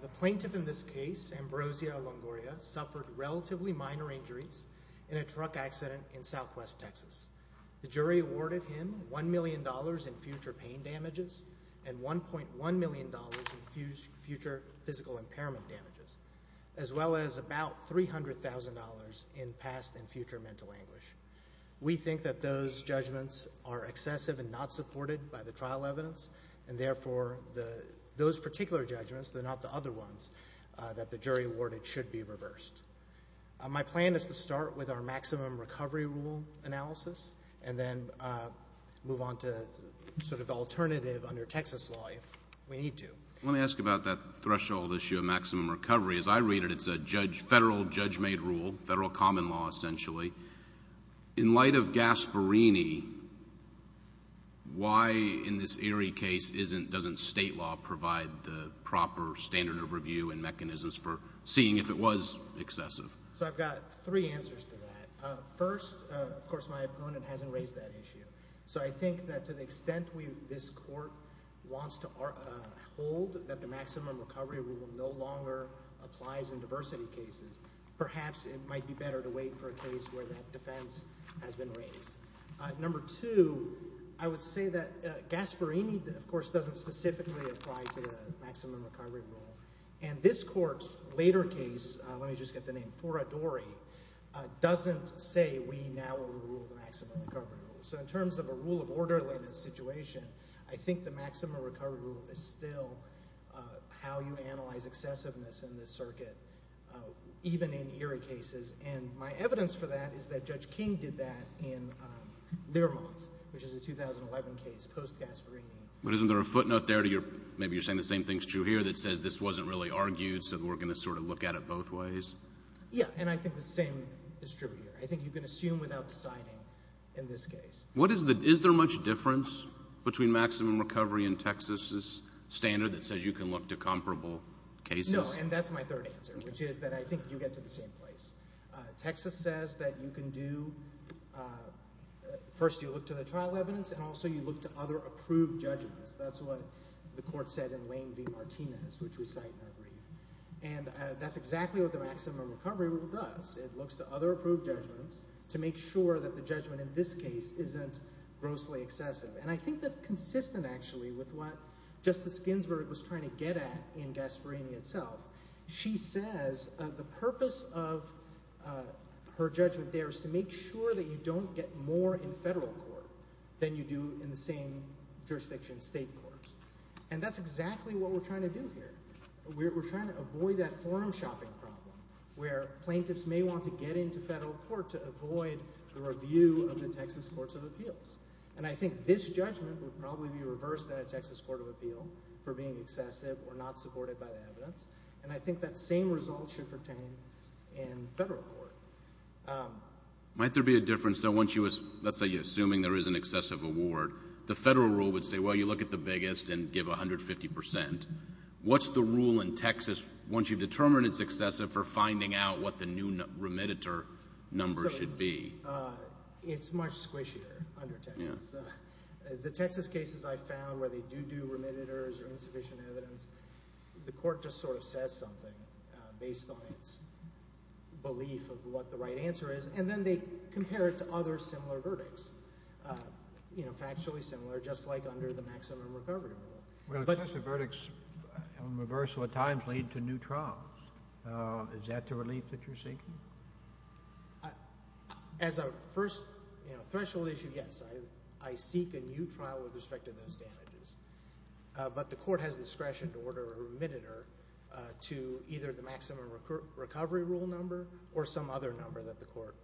The plaintiff in this case, Ambrosio Longoria, suffered relatively minor injuries in a truck accident in southwest Texas. The jury awarded him $1 million in future pain damages and $1.1 million in future physical impairment damages, as well as about $300,000 in past and future mental anguish. We think that those judgments are excessive and not supported by the trial evidence and therefore those particular judgments, they're not the other ones that the jury awarded should be reversed. My plan is to start with our maximum recovery rule analysis and then move on to sort of the alternative under Texas law if we need to. Let me ask about that threshold issue of maximum recovery. As I read it, it's a federal judge-made rule, federal common law essentially. In light of Gasparini, why in this Erie case doesn't state law provide the proper standard overview and mechanisms for seeing if it was excessive? So I've got three answers to that. First, of course, my opponent hasn't raised that issue. So I think that to the extent this court wants to hold that the maximum recovery rule no longer applies to adversity cases, perhaps it might be better to wait for a case where that defense has been raised. Number two, I would say that Gasparini, of course, doesn't specifically apply to the maximum recovery rule. And this court's later case, let me just get the name, Foradori, doesn't say we now overrule the maximum recovery rule. So in terms of a rule of order in this situation, I think the maximum recovery rule is still how you analyze excessiveness in this circuit, even in Erie cases. And my evidence for that is that Judge King did that in Learmonth, which is a 2011 case post-Gasparini. But isn't there a footnote there to your, maybe you're saying the same thing's true here, that says this wasn't really argued, so we're going to sort of look at it both ways? Yeah. And I think the same is true here. I think you can assume without deciding in this case. Is there much difference between maximum recovery and Texas's standard that says you can look to comparable cases? No. And that's my third answer, which is that I think you get to the same place. Texas says that you can do, first you look to the trial evidence, and also you look to other approved judgments. That's what the court said in Lane v. Martinez, which we cite in our brief. And that's exactly what the maximum recovery rule does. It looks to other approved judgments to make sure that the judgment in this case isn't grossly excessive. And I think that's consistent, actually, with what Justice Ginsburg was trying to get at in Gasparini itself. She says the purpose of her judgment there is to make sure that you don't get more in federal court than you do in the same jurisdiction, state courts. And that's exactly what we're trying to do here. We're trying to avoid that forum shopping problem where plaintiffs may want to get into federal court to avoid the review of the Texas courts of appeals. And I think this judgment would probably be reversed at a Texas court of appeal for being excessive or not supported by the evidence. And I think that same result should pertain in federal court. Might there be a difference, though, once you, let's say you're assuming there is an excessive award, the federal rule would say, well, you look at the biggest and give 150 percent. What's the rule in Texas once you've determined it's excessive for finding out what the new remediator number should be? It's much squishier under Texas. The Texas cases I found where they do do remediators or insufficient evidence, the court just sort of says something based on its belief of what the right answer is. And then they compare it to other similar verdicts, you know, factually similar, just like under the maximum recovery rule. Well, excessive verdicts on reversal at times lead to new trials. Is that the relief that you're seeking? As a first, you know, threshold issue, yes, I seek a new trial with respect to those damages. But the court has discretion to order a remediator to either the maximum recovery rule number or some other number that the court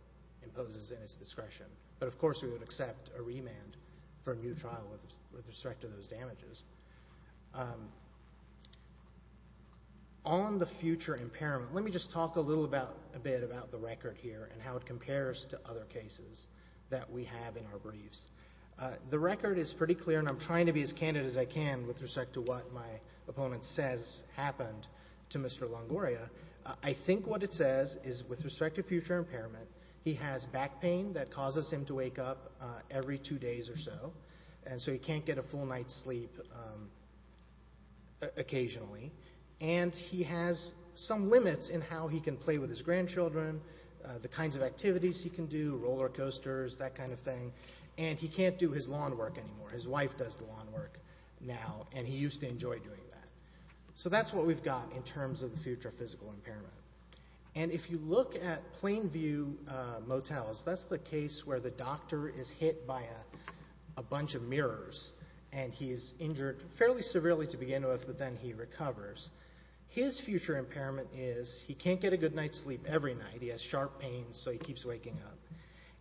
imposes in its discretion. But of course, we would accept a remand for a new trial with respect to those damages. On the future impairment, let me just talk a little bit about the record here and how it compares to other cases that we have in our briefs. The record is pretty clear, and I'm trying to be as candid as I can with respect to what my opponent says happened to Mr. Longoria. I think what it says is with respect to future impairment, he has back pain that causes him to wake up every two days or so, and so he can't get a full night's sleep occasionally. And he has some limits in how he can play with his grandchildren, the kinds of activities he can do, roller coasters, that kind of thing. And he can't do his lawn work anymore. His wife does the lawn work now, and he used to enjoy doing that. So that's what we've got in terms of the future physical impairment. And if you look at Plainview Motels, that's the case where the doctor is hit by a bunch of mirrors, and he's injured fairly severely to begin with, but then he recovers. His future impairment is he can't get a good night's sleep every night. He has sharp pains, so he keeps waking up.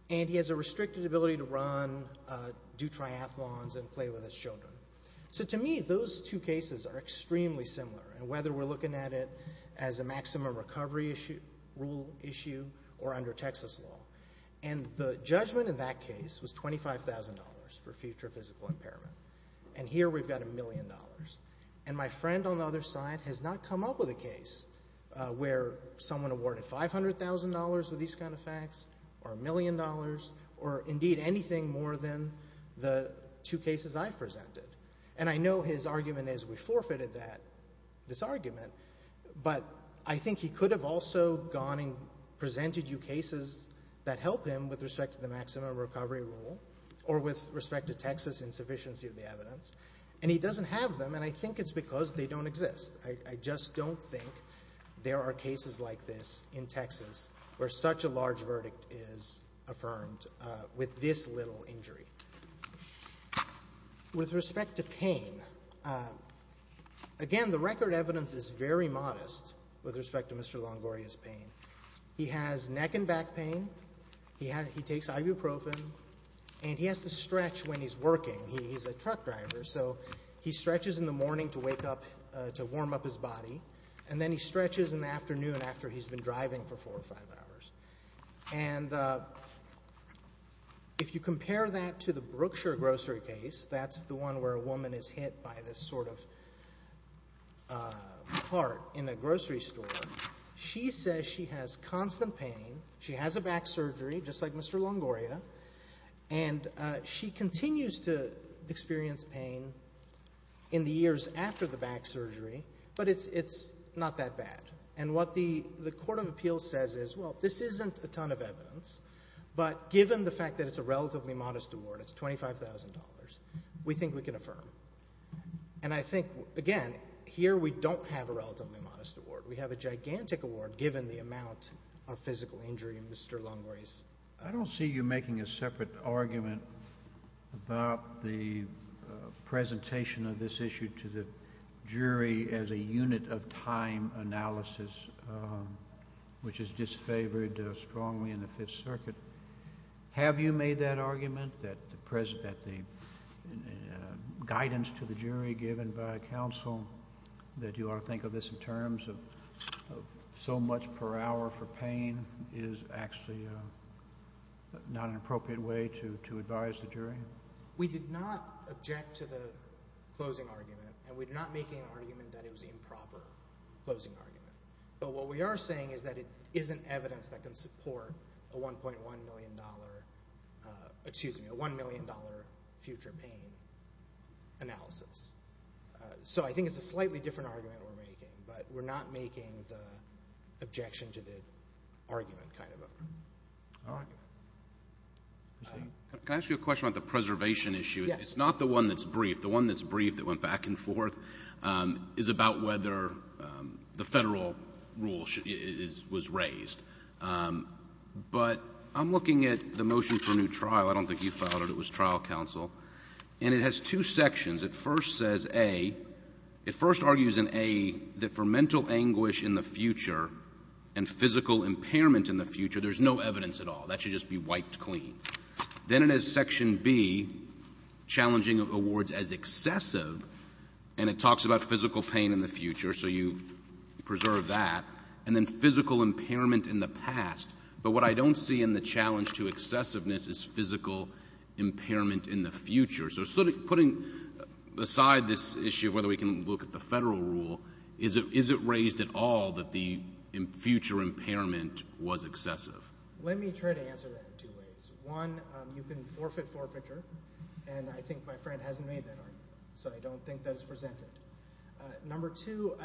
And he has a restricted ability to run, do triathlons, and play with his children. So to me, those two cases are extremely similar, and whether we're looking at it as a maximum recovery rule issue or under Texas law. And the judgment in that case was $25,000 for future physical impairment. And here we've got a million dollars. And my friend on the other side has not come up with a case where someone awarded $500,000 with these kind of facts, or a million dollars, or indeed anything more than the two cases I presented. And I know his argument is we forfeited this argument, but I think he could have also gone and presented you cases that help him with respect to the maximum recovery rule, or with respect to Texas insufficiency of the evidence. And he doesn't have them, and I think it's because they don't exist. I just don't think there are cases like this in Texas where such a large verdict is affirmed with this little injury. With respect to pain, again, the record evidence is very modest with respect to Mr. Longoria's pain. He has neck and back pain, he takes ibuprofen, and he has to stretch when he's working. He's a truck driver, so he stretches in the morning to warm up his body, and then he stretches in the afternoon after he's been driving for four or five hours. And if you compare that to the Brookshire grocery case, that's the one where a woman is hit by this sort of part in a grocery store, she says she has constant pain, she has a back surgery, just like Mr. Longoria, and she continues to experience pain in the years after the back surgery, but it's not that bad. And what the Court of Appeals says is, well, this isn't a ton of evidence, but given the fact that it's a relatively modest award, it's $25,000, we think we can affirm. And I think, again, here we don't have a relatively modest award. We have a gigantic award given the amount of physical injury in Mr. Longoria's. I don't see you making a separate argument about the presentation of this issue to the jury, which is disfavored strongly in the Fifth Circuit. Have you made that argument, that the guidance to the jury given by counsel, that you ought to think of this in terms of so much per hour for pain, is actually not an appropriate way to advise the jury? We did not object to the closing argument, and we're not making an argument that it was an improper closing argument. But what we are saying is that it isn't evidence that can support a $1.1 million, excuse me, a $1 million future pain analysis. So I think it's a slightly different argument we're making, but we're not making the objection to the argument kind of argument. All right. Can I ask you a question about the preservation issue? Yes. It's not the one that's brief. The one that's brief that went back and forth is about whether the Federal rule was raised. But I'm looking at the motion for a new trial. I don't think you filed it. It was trial counsel. And it has two sections. It first says A. It first argues in A that for mental anguish in the future and physical impairment in the future, there's no evidence at all. That should just be wiped clean. Then it has section B, challenging awards as excessive, and it talks about physical pain in the future, so you preserve that. And then physical impairment in the past. But what I don't see in the challenge to excessiveness is physical impairment in the future. So putting aside this issue of whether we can look at the Federal rule, is it raised at all that the future impairment was excessive? Let me try to answer that in two ways. One, you can forfeit forfeiture, and I think my friend hasn't made that argument, so I don't think that is presented. Number two,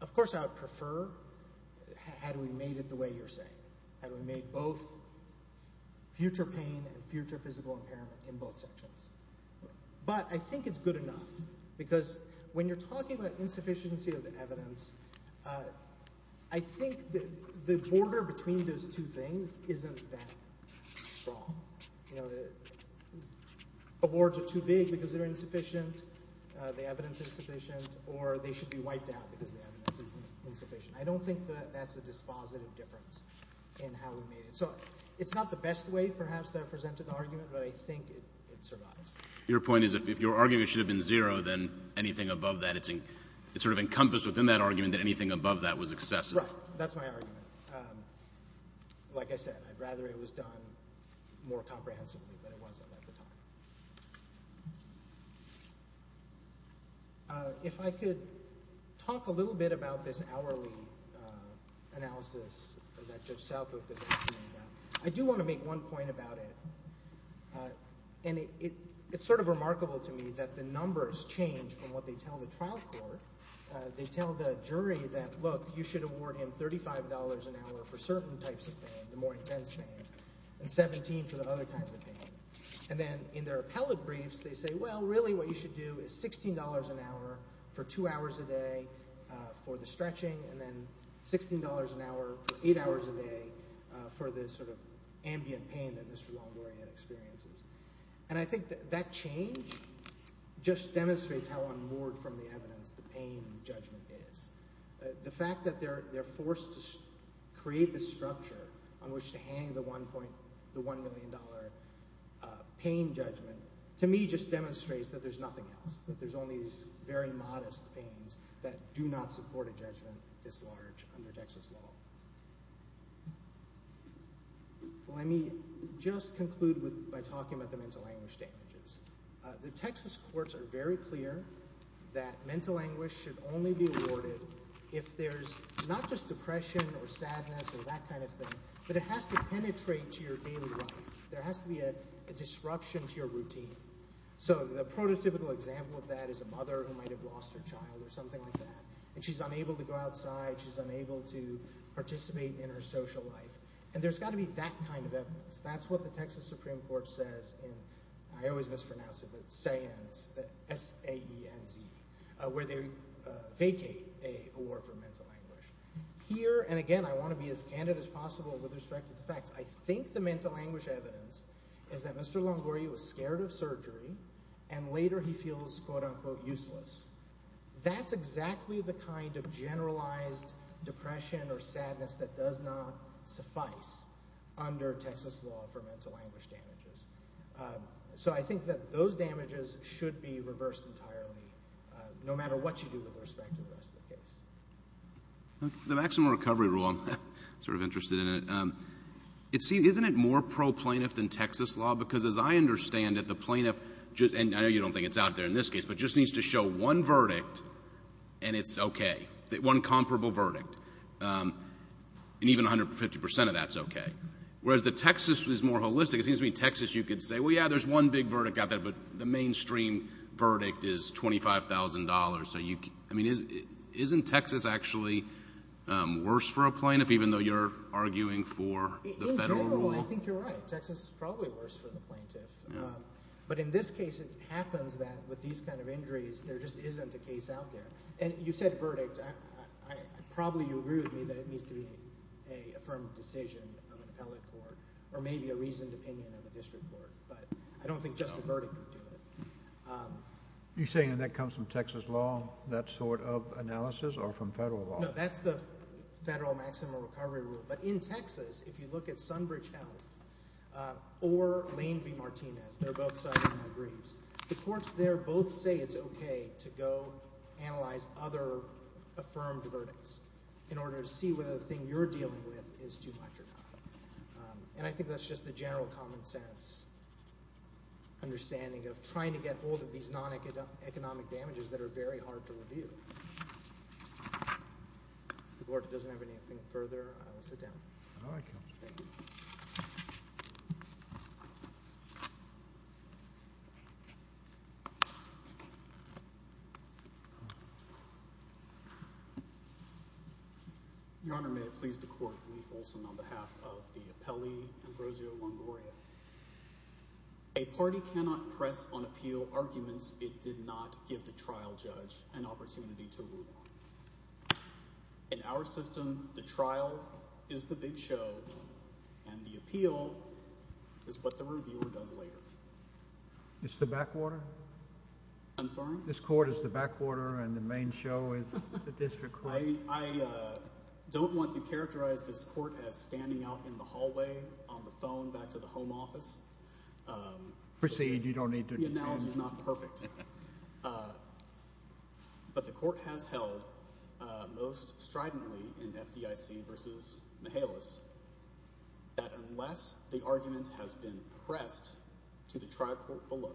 of course I would prefer had we made it the way you're saying. Had we made both future pain and future physical impairment in both sections. But I think it's good enough. Because when you're talking about insufficiency of the evidence, I think the border between those two things isn't that strong. You know, awards are too big because they're insufficient, the evidence is insufficient, or they should be wiped out because the evidence is insufficient. I don't think that's a dispositive difference in how we made it. So it's not the best way, perhaps, that I've presented the argument, but I think it survives. Your point is if your argument should have been zero, then anything above that, it's sort of encompassed within that argument that anything above that was excessive. Right. So that's my argument. Like I said, I'd rather it was done more comprehensively than it wasn't at the time. If I could talk a little bit about this hourly analysis that Judge Salford presented, I do want to make one point about it, and it's sort of remarkable to me that the numbers change from what they tell the trial court, they tell the jury that, look, you should award him $35 an hour for certain types of pain, the more intense pain, and $17 for the other types of pain. And then in their appellate briefs, they say, well, really what you should do is $16 an hour for two hours a day for the stretching, and then $16 an hour for eight hours a day for the sort of ambient pain that Mr. Longoria experiences. And I think that that change just demonstrates how unmoored from the evidence the pain judgment is. The fact that they're forced to create this structure on which to hang the $1 million pain judgment, to me, just demonstrates that there's nothing else, that there's only these very modest pains that do not support a judgment this large under Texas law. Let me just conclude by talking about the mental anguish damages. The Texas courts are very clear that mental anguish should only be awarded if there's not just depression or sadness or that kind of thing, but it has to penetrate to your daily life. There has to be a disruption to your routine. So the prototypical example of that is a mother who might have lost her child or something like that, and she's unable to go outside, she's unable to participate in her social life. And there's got to be that kind of evidence. That's what the Texas Supreme Court says in, I always mispronounce it, but S-A-E-N-Z, where they vacate an award for mental anguish. Here and again, I want to be as candid as possible with respect to the facts. I think the mental anguish evidence is that Mr. Longoria was scared of surgery and later he feels, quote unquote, useless. That's exactly the kind of generalized depression or sadness that does not suffice under Texas law for mental anguish damages. So I think that those damages should be reversed entirely, no matter what you do with respect to the rest of the case. The maximum recovery rule, I'm sort of interested in it. See, isn't it more pro-plaintiff than Texas law? Because as I understand it, the plaintiff, and I know you don't think it's out there in this case, but just needs to show one verdict and it's okay. One comparable verdict. And even 150% of that's okay. Whereas the Texas is more holistic. It seems to me, Texas, you could say, well, yeah, there's one big verdict out there, but the mainstream verdict is $25,000. So you, I mean, isn't Texas actually worse for a plaintiff, even though you're arguing for the federal rule? In general, I think you're right. Texas is probably worse for the plaintiff. But in this case, it happens that with these kind of injuries, there just isn't a case out there. And you said verdict. I probably, you agree with me that it needs to be a firm decision of an appellate court or maybe a reasoned opinion of a district court, but I don't think just the verdict would do it. You're saying that comes from Texas law, that sort of analysis, or from federal law? No, that's the federal maximum recovery rule. But in Texas, if you look at Sunbridge Health or Lane v. Martinez, they're both cited in the briefs. The courts there both say it's okay to go analyze other affirmed verdicts in order to see whether the thing you're dealing with is too much or not. And I think that's just the general common sense understanding of trying to get hold of these non-economic damages that are very hard to review. If the board doesn't have anything further, I will sit down. All right, counsel. Thank you. Your Honor, may it please the Court, Lee Folsom on behalf of the appellee Ambrosio Longoria. A party cannot press on appeal arguments it did not give the trial judge an opportunity to rule on. In our system, the trial is the big show and the appeal is what the reviewer does later. It's the backwater? I'm sorry? This Court is the backwater and the main show is the district court? I don't want to characterize this Court as standing out in the hallway on the phone back to the home office. Proceed. You don't need to— The analogy is not perfect. But the Court has held most stridently in FDIC v. Mihalis that unless the argument has been pressed to the trial court below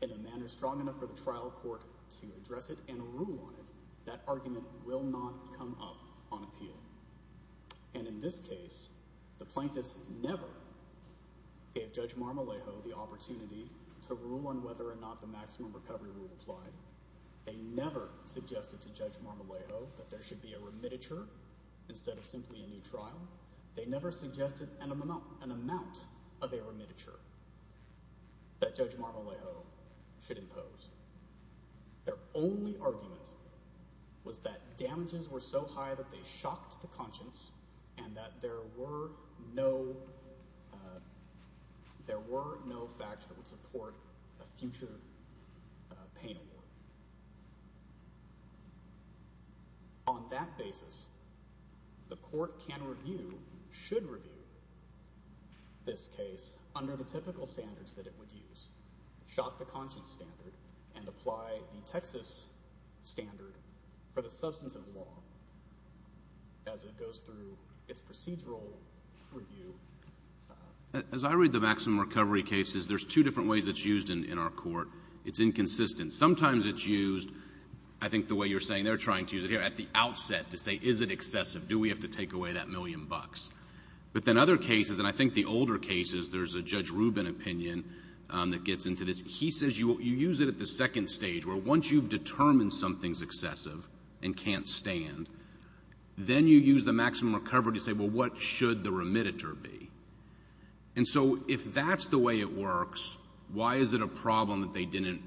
in a manner strong enough for the trial court to address it and rule on it, that argument will not come up on appeal. And in this case, the plaintiffs never gave Judge Marmolejo the opportunity to rule on whether or not the maximum recovery rule applied. They never suggested to Judge Marmolejo that there should be a remititure instead of simply a new trial. They never suggested an amount of a remititure that Judge Marmolejo should impose. Their only argument was that damages were so high that they shocked the conscience and that there were no facts that would support a future pain award. On that basis, the Court can review—should review—this case under the typical standards that it would use, shock the conscience standard, and apply the Texas standard for the substance of the law as it goes through its procedural review. As I read the maximum recovery cases, there's two different ways it's used in our Court. It's inconsistent. Sometimes it's used, I think the way you're saying, they're trying to use it here at the outset to say, is it excessive? Do we have to take away that million bucks? But then other cases, and I think the older cases, there's a Judge Rubin opinion that gets into this, he says you use it at the second stage, where once you've determined something's excessive and can't stand, then you use the maximum recovery to say, well, what should the remititure be? And so, if that's the way it works, why is it a problem that they didn't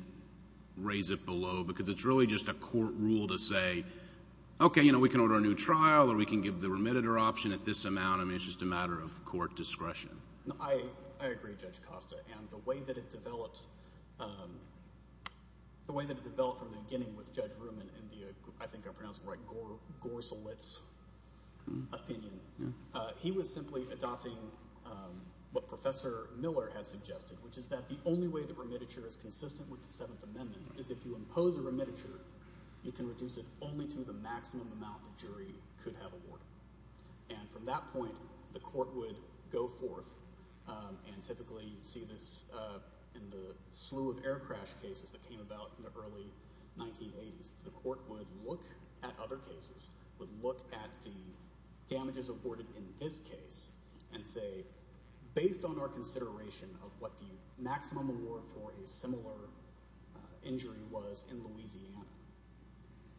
raise it below? Because it's really just a Court rule to say, okay, you know, we can order a new trial or we can give the remititure option at this amount, I mean, it's just a matter of Court discretion. I agree, Judge Costa, and the way that it developed—the way that it developed from the beginning with Judge Rubin in the, I think I'm pronouncing it right, Gorsolitz opinion, he was simply adopting what Professor Miller had suggested, which is that the only way that remititure is consistent with the Seventh Amendment is if you impose a remititure, you can reduce it only to the maximum amount the jury could have awarded. And from that point, the Court would go forth, and typically you see this in the slew of air crash cases that came about in the early 1980s, the Court would look at other cases, would look at the damages awarded in this case, and say, based on our consideration of what the maximum award for a similar injury was in Louisiana,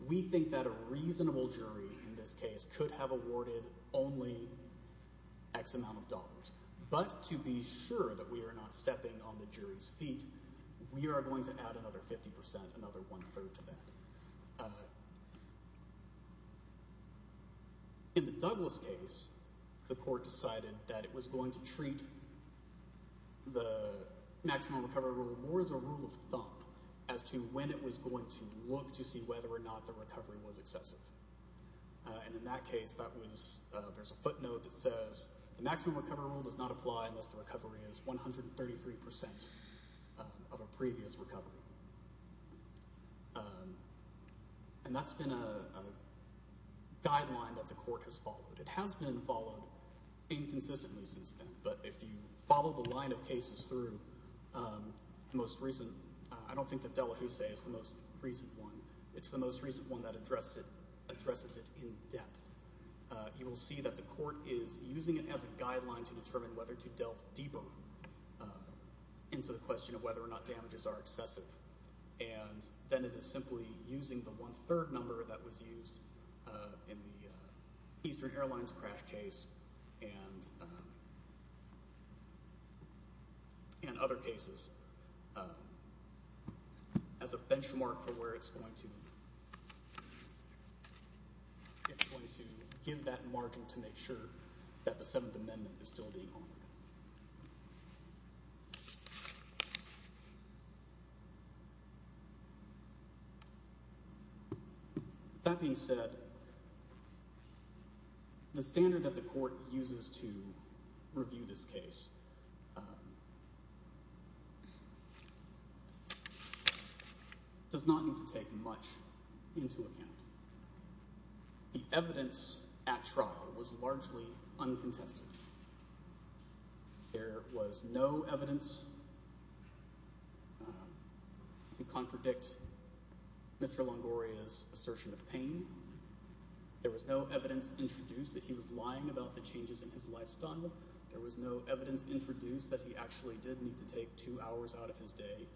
we think that a reasonable jury in this case could have awarded only X amount of dollars. But to be sure that we are not stepping on the jury's feet, we are going to add another In the Douglas case, the Court decided that it was going to treat the maximum recovery rule more as a rule of thumb as to when it was going to look to see whether or not the recovery was excessive. And in that case, there's a footnote that says, the maximum recovery rule does not apply unless the recovery is 133% of a previous recovery. And that's been a guideline that the Court has followed. It has been followed inconsistently since then, but if you follow the line of cases through, the most recent, I don't think that Delahousset is the most recent one, it's the most recent one that addresses it in depth. You will see that the Court is using it as a guideline to determine whether to delve deeper into the question of whether or not damages are excessive. And then it is simply using the one-third number that was used in the Eastern Airlines crash case and other cases as a benchmark for where it's going to give that margin to make sure that the Seventh Amendment is still being honored. That being said, the standard that the Court uses to review this case does not need to take much into account. The evidence at trial was largely uncontested. There was no evidence to contradict Mr. Longoria's assertion of pain. There was no evidence introduced that he was lying about the changes in his lifestyle. There was no evidence introduced that he actually did need to take two hours out of his day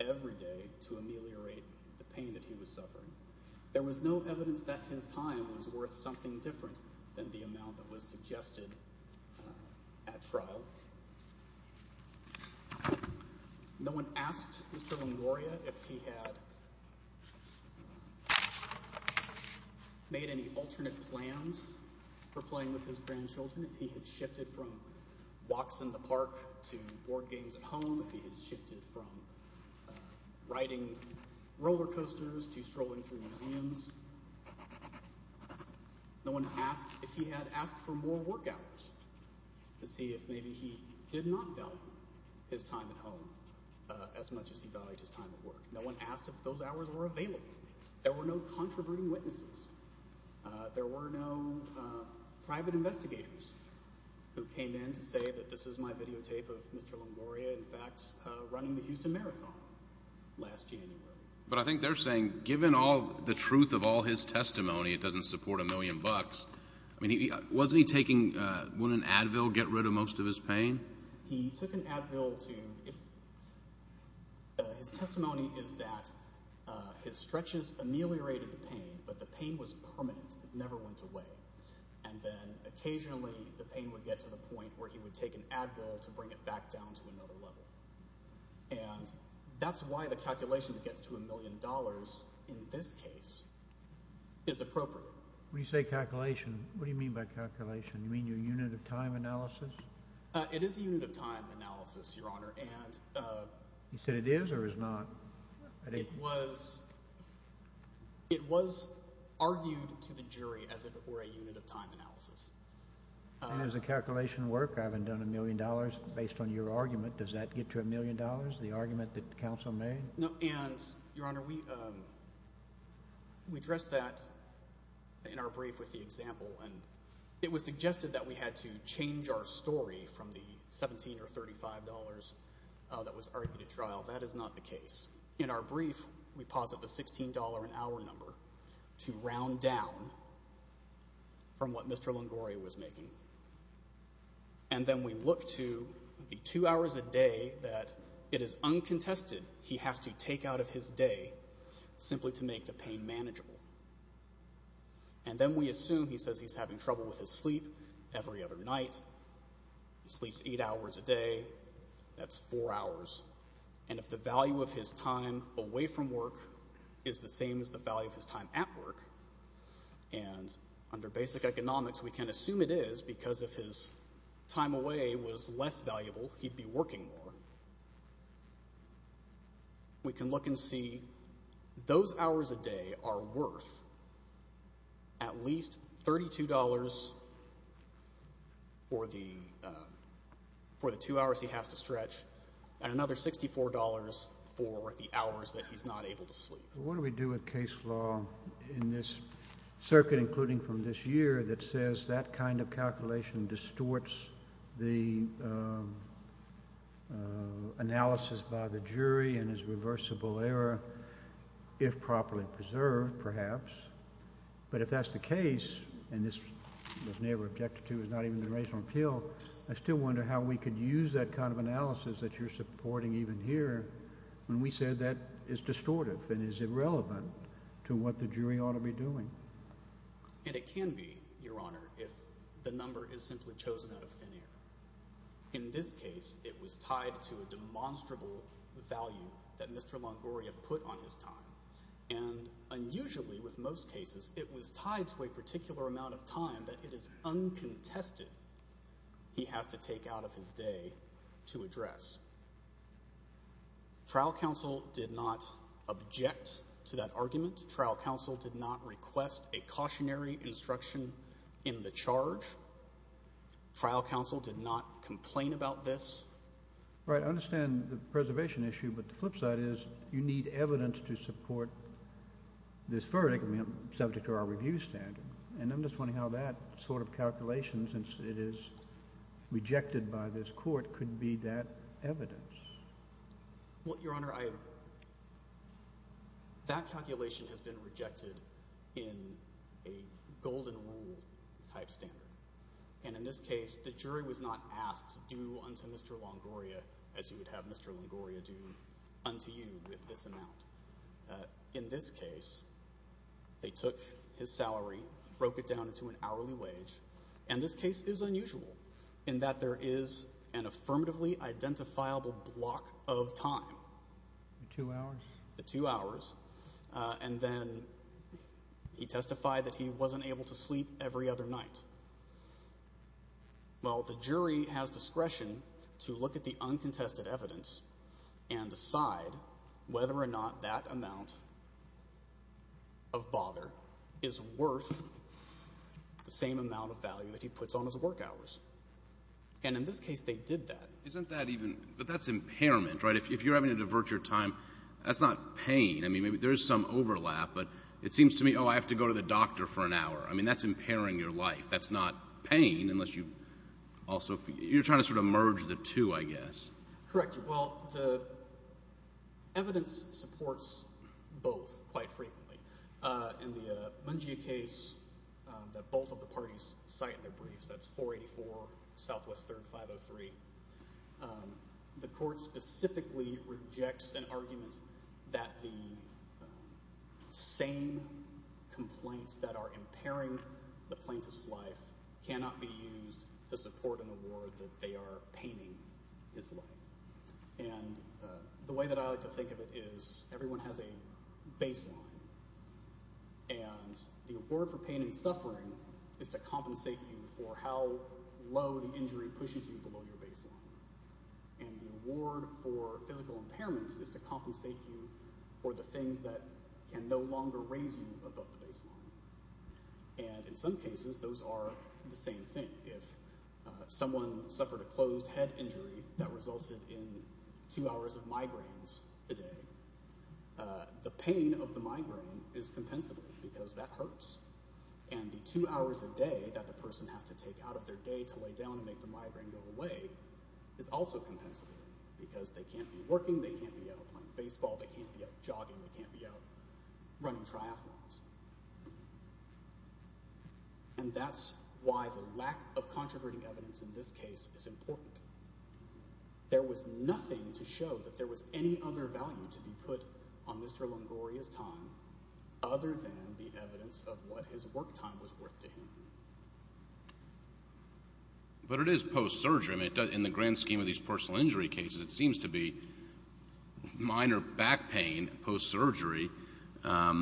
every day to ameliorate the pain that he was suffering. There was no evidence that his time was worth something different than the amount that was suggested at trial. No one asked Mr. Longoria if he had made any alternate plans for playing with his grandchildren. If he had shifted from walks in the park to board games at home. If he had shifted from riding roller coasters to strolling through museums. No one asked if he had asked for more work hours to see if maybe he did not value his time at home as much as he valued his time at work. No one asked if those hours were available. There were no controverting witnesses. There were no private investigators who came in to say that this is my videotape of Mr. Longoria running the Houston Marathon last January. But I think they're saying, given all the truth of all his testimony, it doesn't support a million bucks. Wasn't he taking, wouldn't an Advil get rid of most of his pain? He took an Advil to, his testimony is that his stretches ameliorated the pain, but the pain was permanent. It never went away. And then occasionally the pain would get to the point where he would take an Advil to bring it back down to another level. And that's why the calculation that gets to a million dollars in this case is appropriate. When you say calculation, what do you mean by calculation? You mean your unit of time analysis? It is a unit of time analysis, Your Honor. You said it is or is not? It was, it was argued to the jury as if it were a unit of time analysis. And is the calculation work? I haven't done a million dollars. Based on your argument, does that get to a million dollars? The argument that counsel made? No. And, Your Honor, we addressed that in our brief with the example. It was suggested that we had to change our story from the $17 or $35 that was argued at trial. That is not the case. In our brief, we posit the $16 an hour number to round down from what Mr. Longoria was making. And then we look to the two hours a day that it is uncontested he has to take out of his day simply to make the pain manageable. And then we assume he says he's having trouble with his sleep every other night. He sleeps eight hours a day. That's four hours. And if the value of his time away from work is the same as the value of his time at work, and under basic economics we can assume it is because if his time away was less valuable, he'd be working more. We can look and see those hours a day are worth at least $32 for the two hours he has to stretch and another $64 for the hours that he's not able to sleep. What do we do with case law in this circuit, including from this year, that says that kind of calculation distorts the analysis by the jury and is reversible error if properly preserved, perhaps. But if that's the case, and this was never objected to, it's not even been raised on the Hill, I still wonder how we could use that kind of analysis that you're supporting even here when we said that is distortive and is irrelevant to what the jury ought to be doing. And it can be, Your Honor, if the number is simply chosen out of thin air. In this case, it was tied to a demonstrable value that Mr. Longoria put on his time. And unusually with most cases, it was tied to a particular amount of time that it is uncontested he has to take out of his day to address. Trial counsel did not object to that argument. Trial counsel did not request a cautionary instruction in the charge. Trial counsel did not complain about this. All right. I understand the preservation issue, but the flip side is you need evidence to support this verdict, subject to our review standard. And I'm just wondering how that sort of calculation, since it is rejected by this court, could be that evidence. Well, Your Honor, that calculation has been rejected in a golden rule type standard. And in this case, the jury was not asked to do unto Mr. Longoria as you would have Mr. Longoria do unto you with this amount. In this case, they took his salary, broke it down into an hourly wage. And this case is unusual in that there is an affirmatively identifiable block of time. The two hours? The two hours. And then he testified that he wasn't able to sleep every other night. Well, the jury has discretion to look at the uncontested evidence and decide whether or not that amount of bother is worth the same amount of value that he puts on his work hours. And in this case, they did that. Isn't that even — but that's impairment, right? If you're having to divert your time, that's not pain. I mean, there is some overlap, but it seems to me, oh, I have to go to the doctor for an hour. I mean, that's impairing your life. That's not pain unless you also — you're trying to sort of merge the two, I guess. Correct. Well, the evidence supports both quite frequently. In the Mungia case that both of the parties cite in their briefs, that's 484 Southwest Third 503, the court specifically rejects an argument that the same complaints that are impairing the plaintiff's life cannot be used to support an award that they are paining his life. And the way that I like to think of it is everyone has a baseline, and the award for pain and suffering is to compensate you for how low the injury pushes you below your baseline. And the award for physical impairment is to compensate you for the things that can no longer raise you above the baseline. And in some cases, those are the same thing. If someone suffered a closed head injury that resulted in two hours of migraines a day, the pain of the migraine is compensable because that hurts. And the two hours a day that the person has to take out of their day to lay down and make the migraine go away is also compensable because they can't be working, they can't be out running triathlons. And that's why the lack of controverting evidence in this case is important. There was nothing to show that there was any other value to be put on Mr. Longoria's time other than the evidence of what his work time was worth to him. But it is post-surgery. I mean, in the grand scheme of these personal injury cases, it seems to be minor back pain post-surgery. I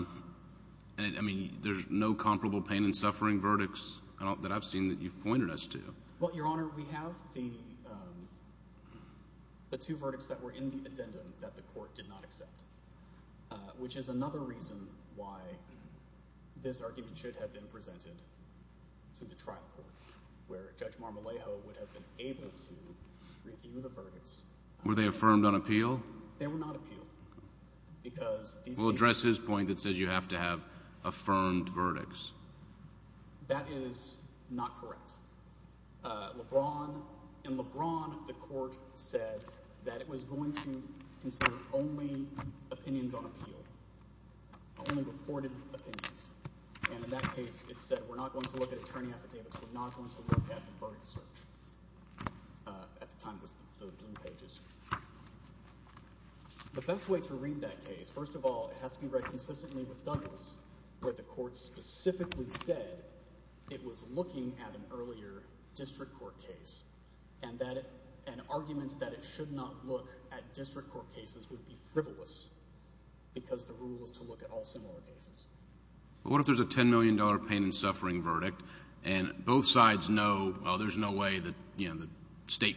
mean, there's no comparable pain and suffering verdicts that I've seen that you've pointed us to. Well, Your Honor, we have the two verdicts that were in the addendum that the court did not accept, which is another reason why this argument should have been presented to the trial court, where Judge Marmolejo would have been able to review the verdicts. Were they affirmed on appeal? They were not appealed. We'll address his point that says you have to have affirmed verdicts. That is not correct. In LeBron, the court said that it was going to consider only opinions on appeal, only reported opinions. And in that case, it said we're not going to look at attorney affidavits, we're not going to look at the verdict search. At the time, it was the blue pages. The best way to read that case, first of all, it has to be read consistently with Douglas, where the court specifically said it was looking at an earlier district court case and that an argument that it should not look at district court cases would be frivolous because the rule is to look at all similar cases. What if there's a $10 million pain and suffering verdict and both sides know there's no way the state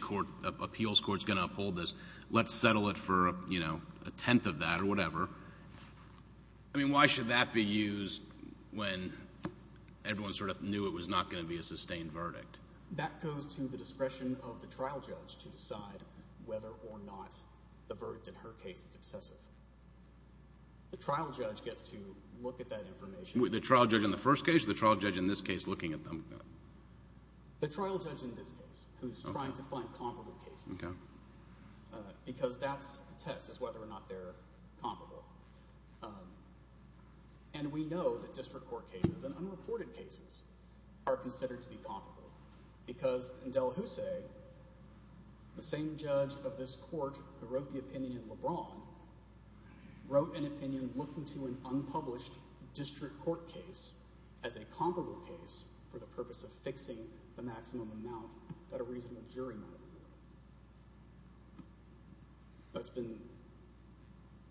appeals court is going to uphold this, let's settle it for a tenth of that or whatever. I mean, why should that be used when everyone sort of knew it was not going to be a sustained verdict? That goes to the discretion of the trial judge to decide whether or not the verdict in her case is excessive. The trial judge gets to look at that information. The trial judge in the first case or the trial judge in this case looking at them? The trial judge in this case who's trying to find comparable cases because that's the test is whether or not they're comparable. And we know that district court cases and unreported cases are considered to be comparable because in De La Jose, the same judge of this court who wrote the opinion in LeBron wrote an opinion looking to an unpublished district court case as a comparable case for the purpose of fixing the maximum amount that a reasonable jury might award. It's been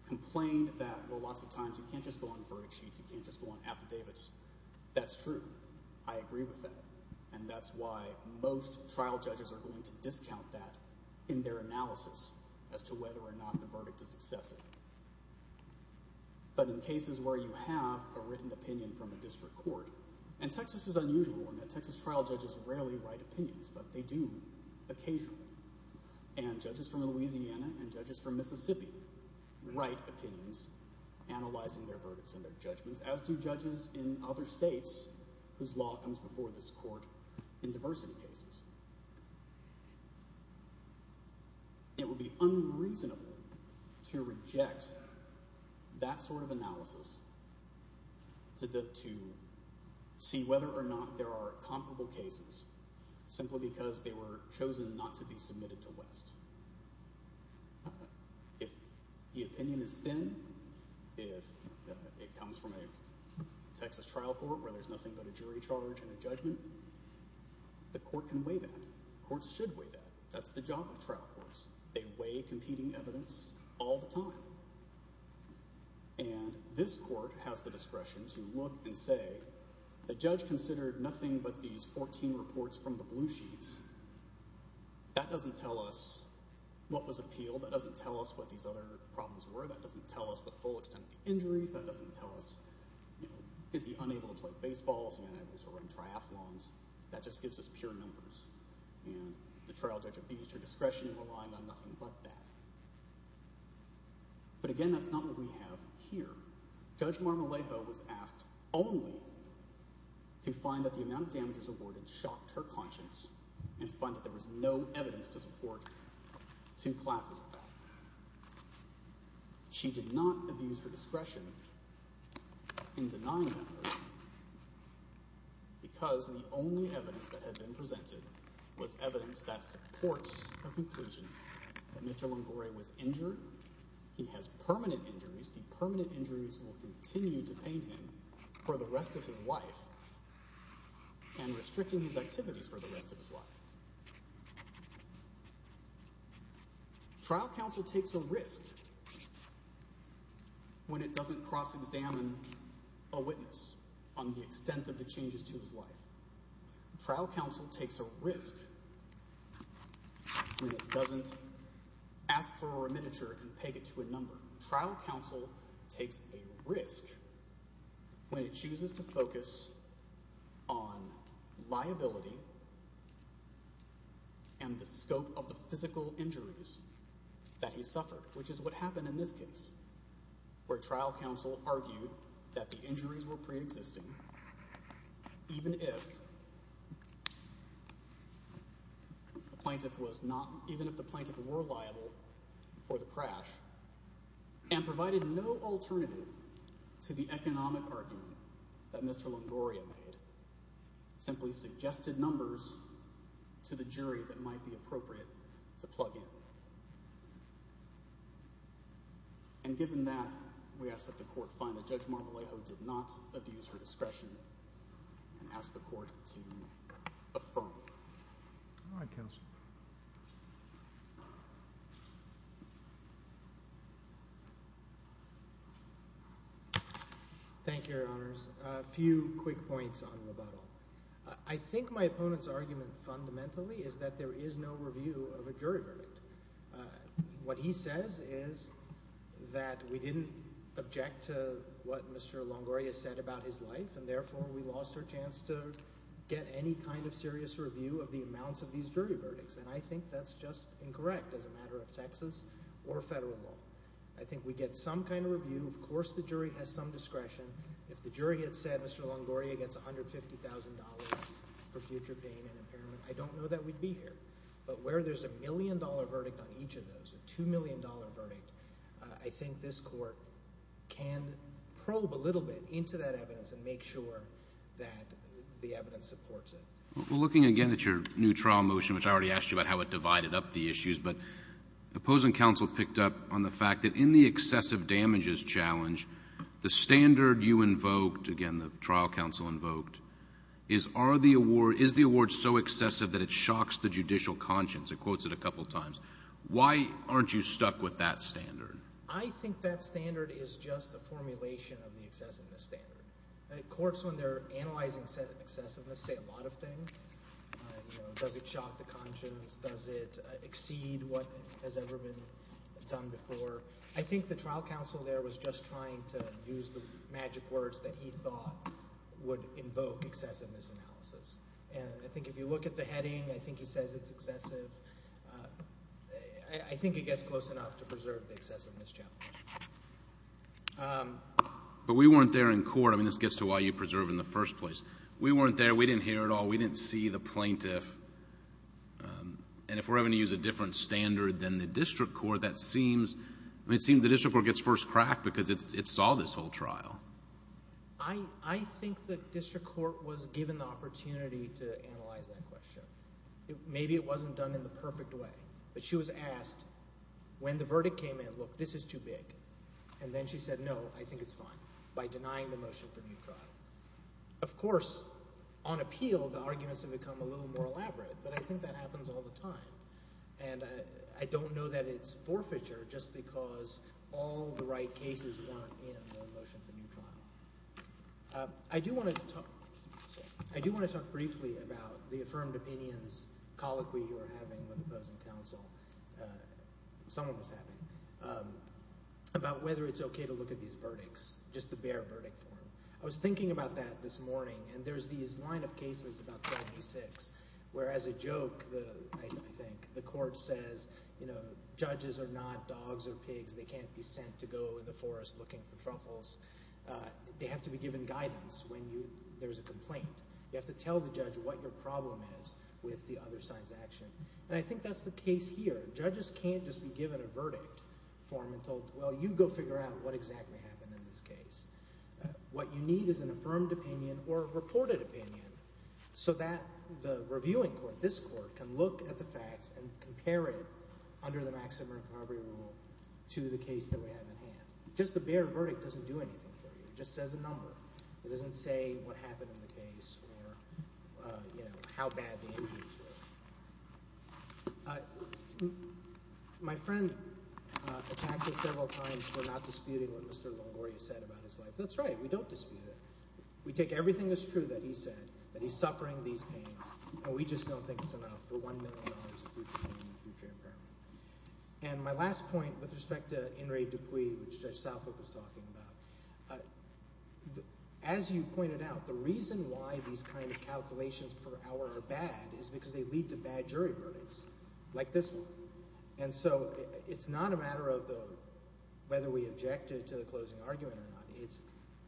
complained that lots of times you can't just go on verdict sheets, you can't just go on affidavits. That's true. I agree with that. And that's why most trial judges are going to discount that in their analysis as to whether or not the verdict is excessive. But in cases where you have a written opinion from a district court, and Texas is unusual in that Texas trial judges rarely write opinions, but they do occasionally. And judges from Louisiana and judges from Mississippi write opinions analyzing their verdicts and their judgments, as do judges in other states whose law comes before this court in diversity cases. It would be unreasonable to reject that sort of analysis to see whether or not there are comparable cases simply because they were chosen not to be submitted to West. If the opinion is thin, if it comes from a Texas trial court where there's nothing but a jury charge and a judgment, the court can weigh that. Courts should weigh that. That's the job of trial courts. They weigh competing evidence all the time. And this court has the discretion to look and say, the judge considered nothing but these 14 reports from the blue sheets. That doesn't tell us what was appealed. That doesn't tell us what these other problems were. That doesn't tell us the full extent of the injuries. That doesn't tell us, you know, is he unable to play baseball? Is he unable to run triathlons? That just gives us pure numbers. And the trial judge abused her discretion in relying on nothing but that. But again, that's not what we have here. Judge Marmolejo was asked only to find that the amount of damages awarded shocked her conscience and to find that there was no evidence to support two classes of that. She did not abuse her discretion in denying that. Because the only evidence that had been presented was evidence that supports her conclusion that Mr. Longore was injured. He has permanent injuries. The permanent injuries will continue to pain him for the rest of his life. And restricting his activities for the rest of his life. Trial counsel takes a risk when it doesn't cross-examine a witness on the extent of the changes to his life. Trial counsel takes a risk when it doesn't ask for a remittiture and peg it to a number. Trial counsel takes a risk when it chooses to focus on liability and the scope of the physical injuries that he suffered, which is what happened in this case, where trial counsel argued that the injuries were pre-existing even if the plaintiff were liable for the crash and provided no alternative to the economic argument that Mr. Longore had made. Simply suggested numbers to the jury that might be appropriate to plug in. And given that, we ask that the court find that Judge Marmolejo did not abuse her discretion and ask the court to affirm it. Thank you, Your Honors. A few quick points on rebuttal. I think my opponent's argument fundamentally is that there is no review of a jury verdict. What he says is that we didn't object to what Mr. Longore has said about his life and therefore we lost our chance to get any kind of serious review of the amounts of these jury verdicts. And I think that's just incorrect as a matter of Texas or federal law. I think we get some kind of review. Of course the jury has some discretion. If the jury had said Mr. Longore gets $150,000 for future pain and impairment, I don't know that we'd be here. But where there's a million-dollar verdict on each of those, a $2 million verdict, I think this court can probe a little bit into that evidence and make sure that the evidence supports it. Looking again at your new trial motion, which I already asked you about how it divided up the issues, but opposing counsel picked up on the fact that in the excessive damages challenge, the standard you invoked, again the trial counsel invoked, is the award so excessive that it shocks the judicial conscience? It quotes it a couple times. Why aren't you stuck with that standard? I think that standard is just a formulation of the excessiveness standard. Courts, when they're analyzing excessiveness, say a lot of things. Does it shock the conscience? Does it exceed what has ever been done before? I think the trial counsel there was just trying to use the magic words that he thought would invoke excessiveness analysis. And I think if you look at the heading, I think he says it's excessive. I think it gets close enough to preserve the excessiveness challenge. But we weren't there in court. I mean, this gets to why you preserve in the first place. We weren't there. We didn't hear it all. We didn't see the plaintiff. And if we're having to use a different standard than the district court, that seems the district court gets first crack because it saw this whole trial. I think the district court was given the opportunity to analyze that question. Maybe it wasn't done in the perfect way. But she was asked when the verdict came in, look, this is too big. And then she said, no, I think it's fine, by denying the motion for new trial. Of course, on appeal, the arguments have become a little more elaborate, but I think that happens all the time. And I don't know that it's forfeiture just because all the right cases weren't in the motion for new trial. I do want to talk briefly about the affirmed opinions colloquy you were having with opposing counsel. Someone was having. About whether it's okay to look at these verdicts, just the bare verdict form. I was thinking about that this morning, and there's these line of cases, about 36, where as a joke, I think, the court says, you know, judges are not dogs or pigs. They can't be sent to go in the forest looking for truffles. They have to be given guidance when there's a complaint. You have to tell the judge what your problem is with the other side's action. And I think that's the case here. Judges can't just be given a verdict form and told, well, you go figure out what exactly happened in this case. What you need is an affirmed opinion or a reported opinion. So that the reviewing court, this court, can look at the facts and compare it under the maximum recovery rule to the case that we have in hand. Just the bare verdict doesn't do anything for you. It just says a number. It doesn't say what happened in the case or, you know, how bad the injuries were. My friend attacked us several times for not disputing what Mr. Longoria said about his life. That's right. We don't dispute it. We take everything that's true that he said, that he's suffering these pains, and we just don't think it's enough for $1 million in future impairment. And my last point with respect to In re Dupuy, which Judge Southwick was talking about, as you pointed out, the reason why these kind of calculations per hour are bad is because they lead to bad jury verdicts like this one. And so it's not a matter of whether we object to the closing argument or not. It's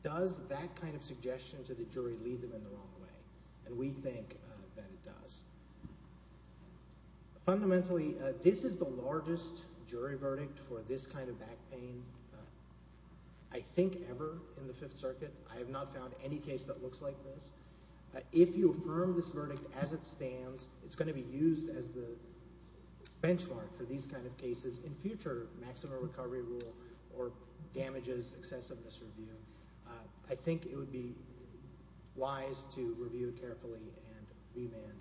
does that kind of suggestion to the jury lead them in the wrong way? And we think that it does. Fundamentally, this is the largest jury verdict for this kind of back pain, I think, ever in the Fifth Circuit. I have not found any case that looks like this. If you affirm this verdict as it stands, it's going to be used as the benchmark for these kind of cases in future maximum recovery rule or damages excessive misreview. I think it would be wise to review it carefully and remand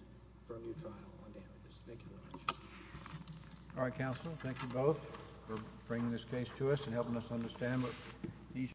for a new trial on damages. Thank you very much. All right, counsel. Thank you both for bringing this case to us and helping us understand what each.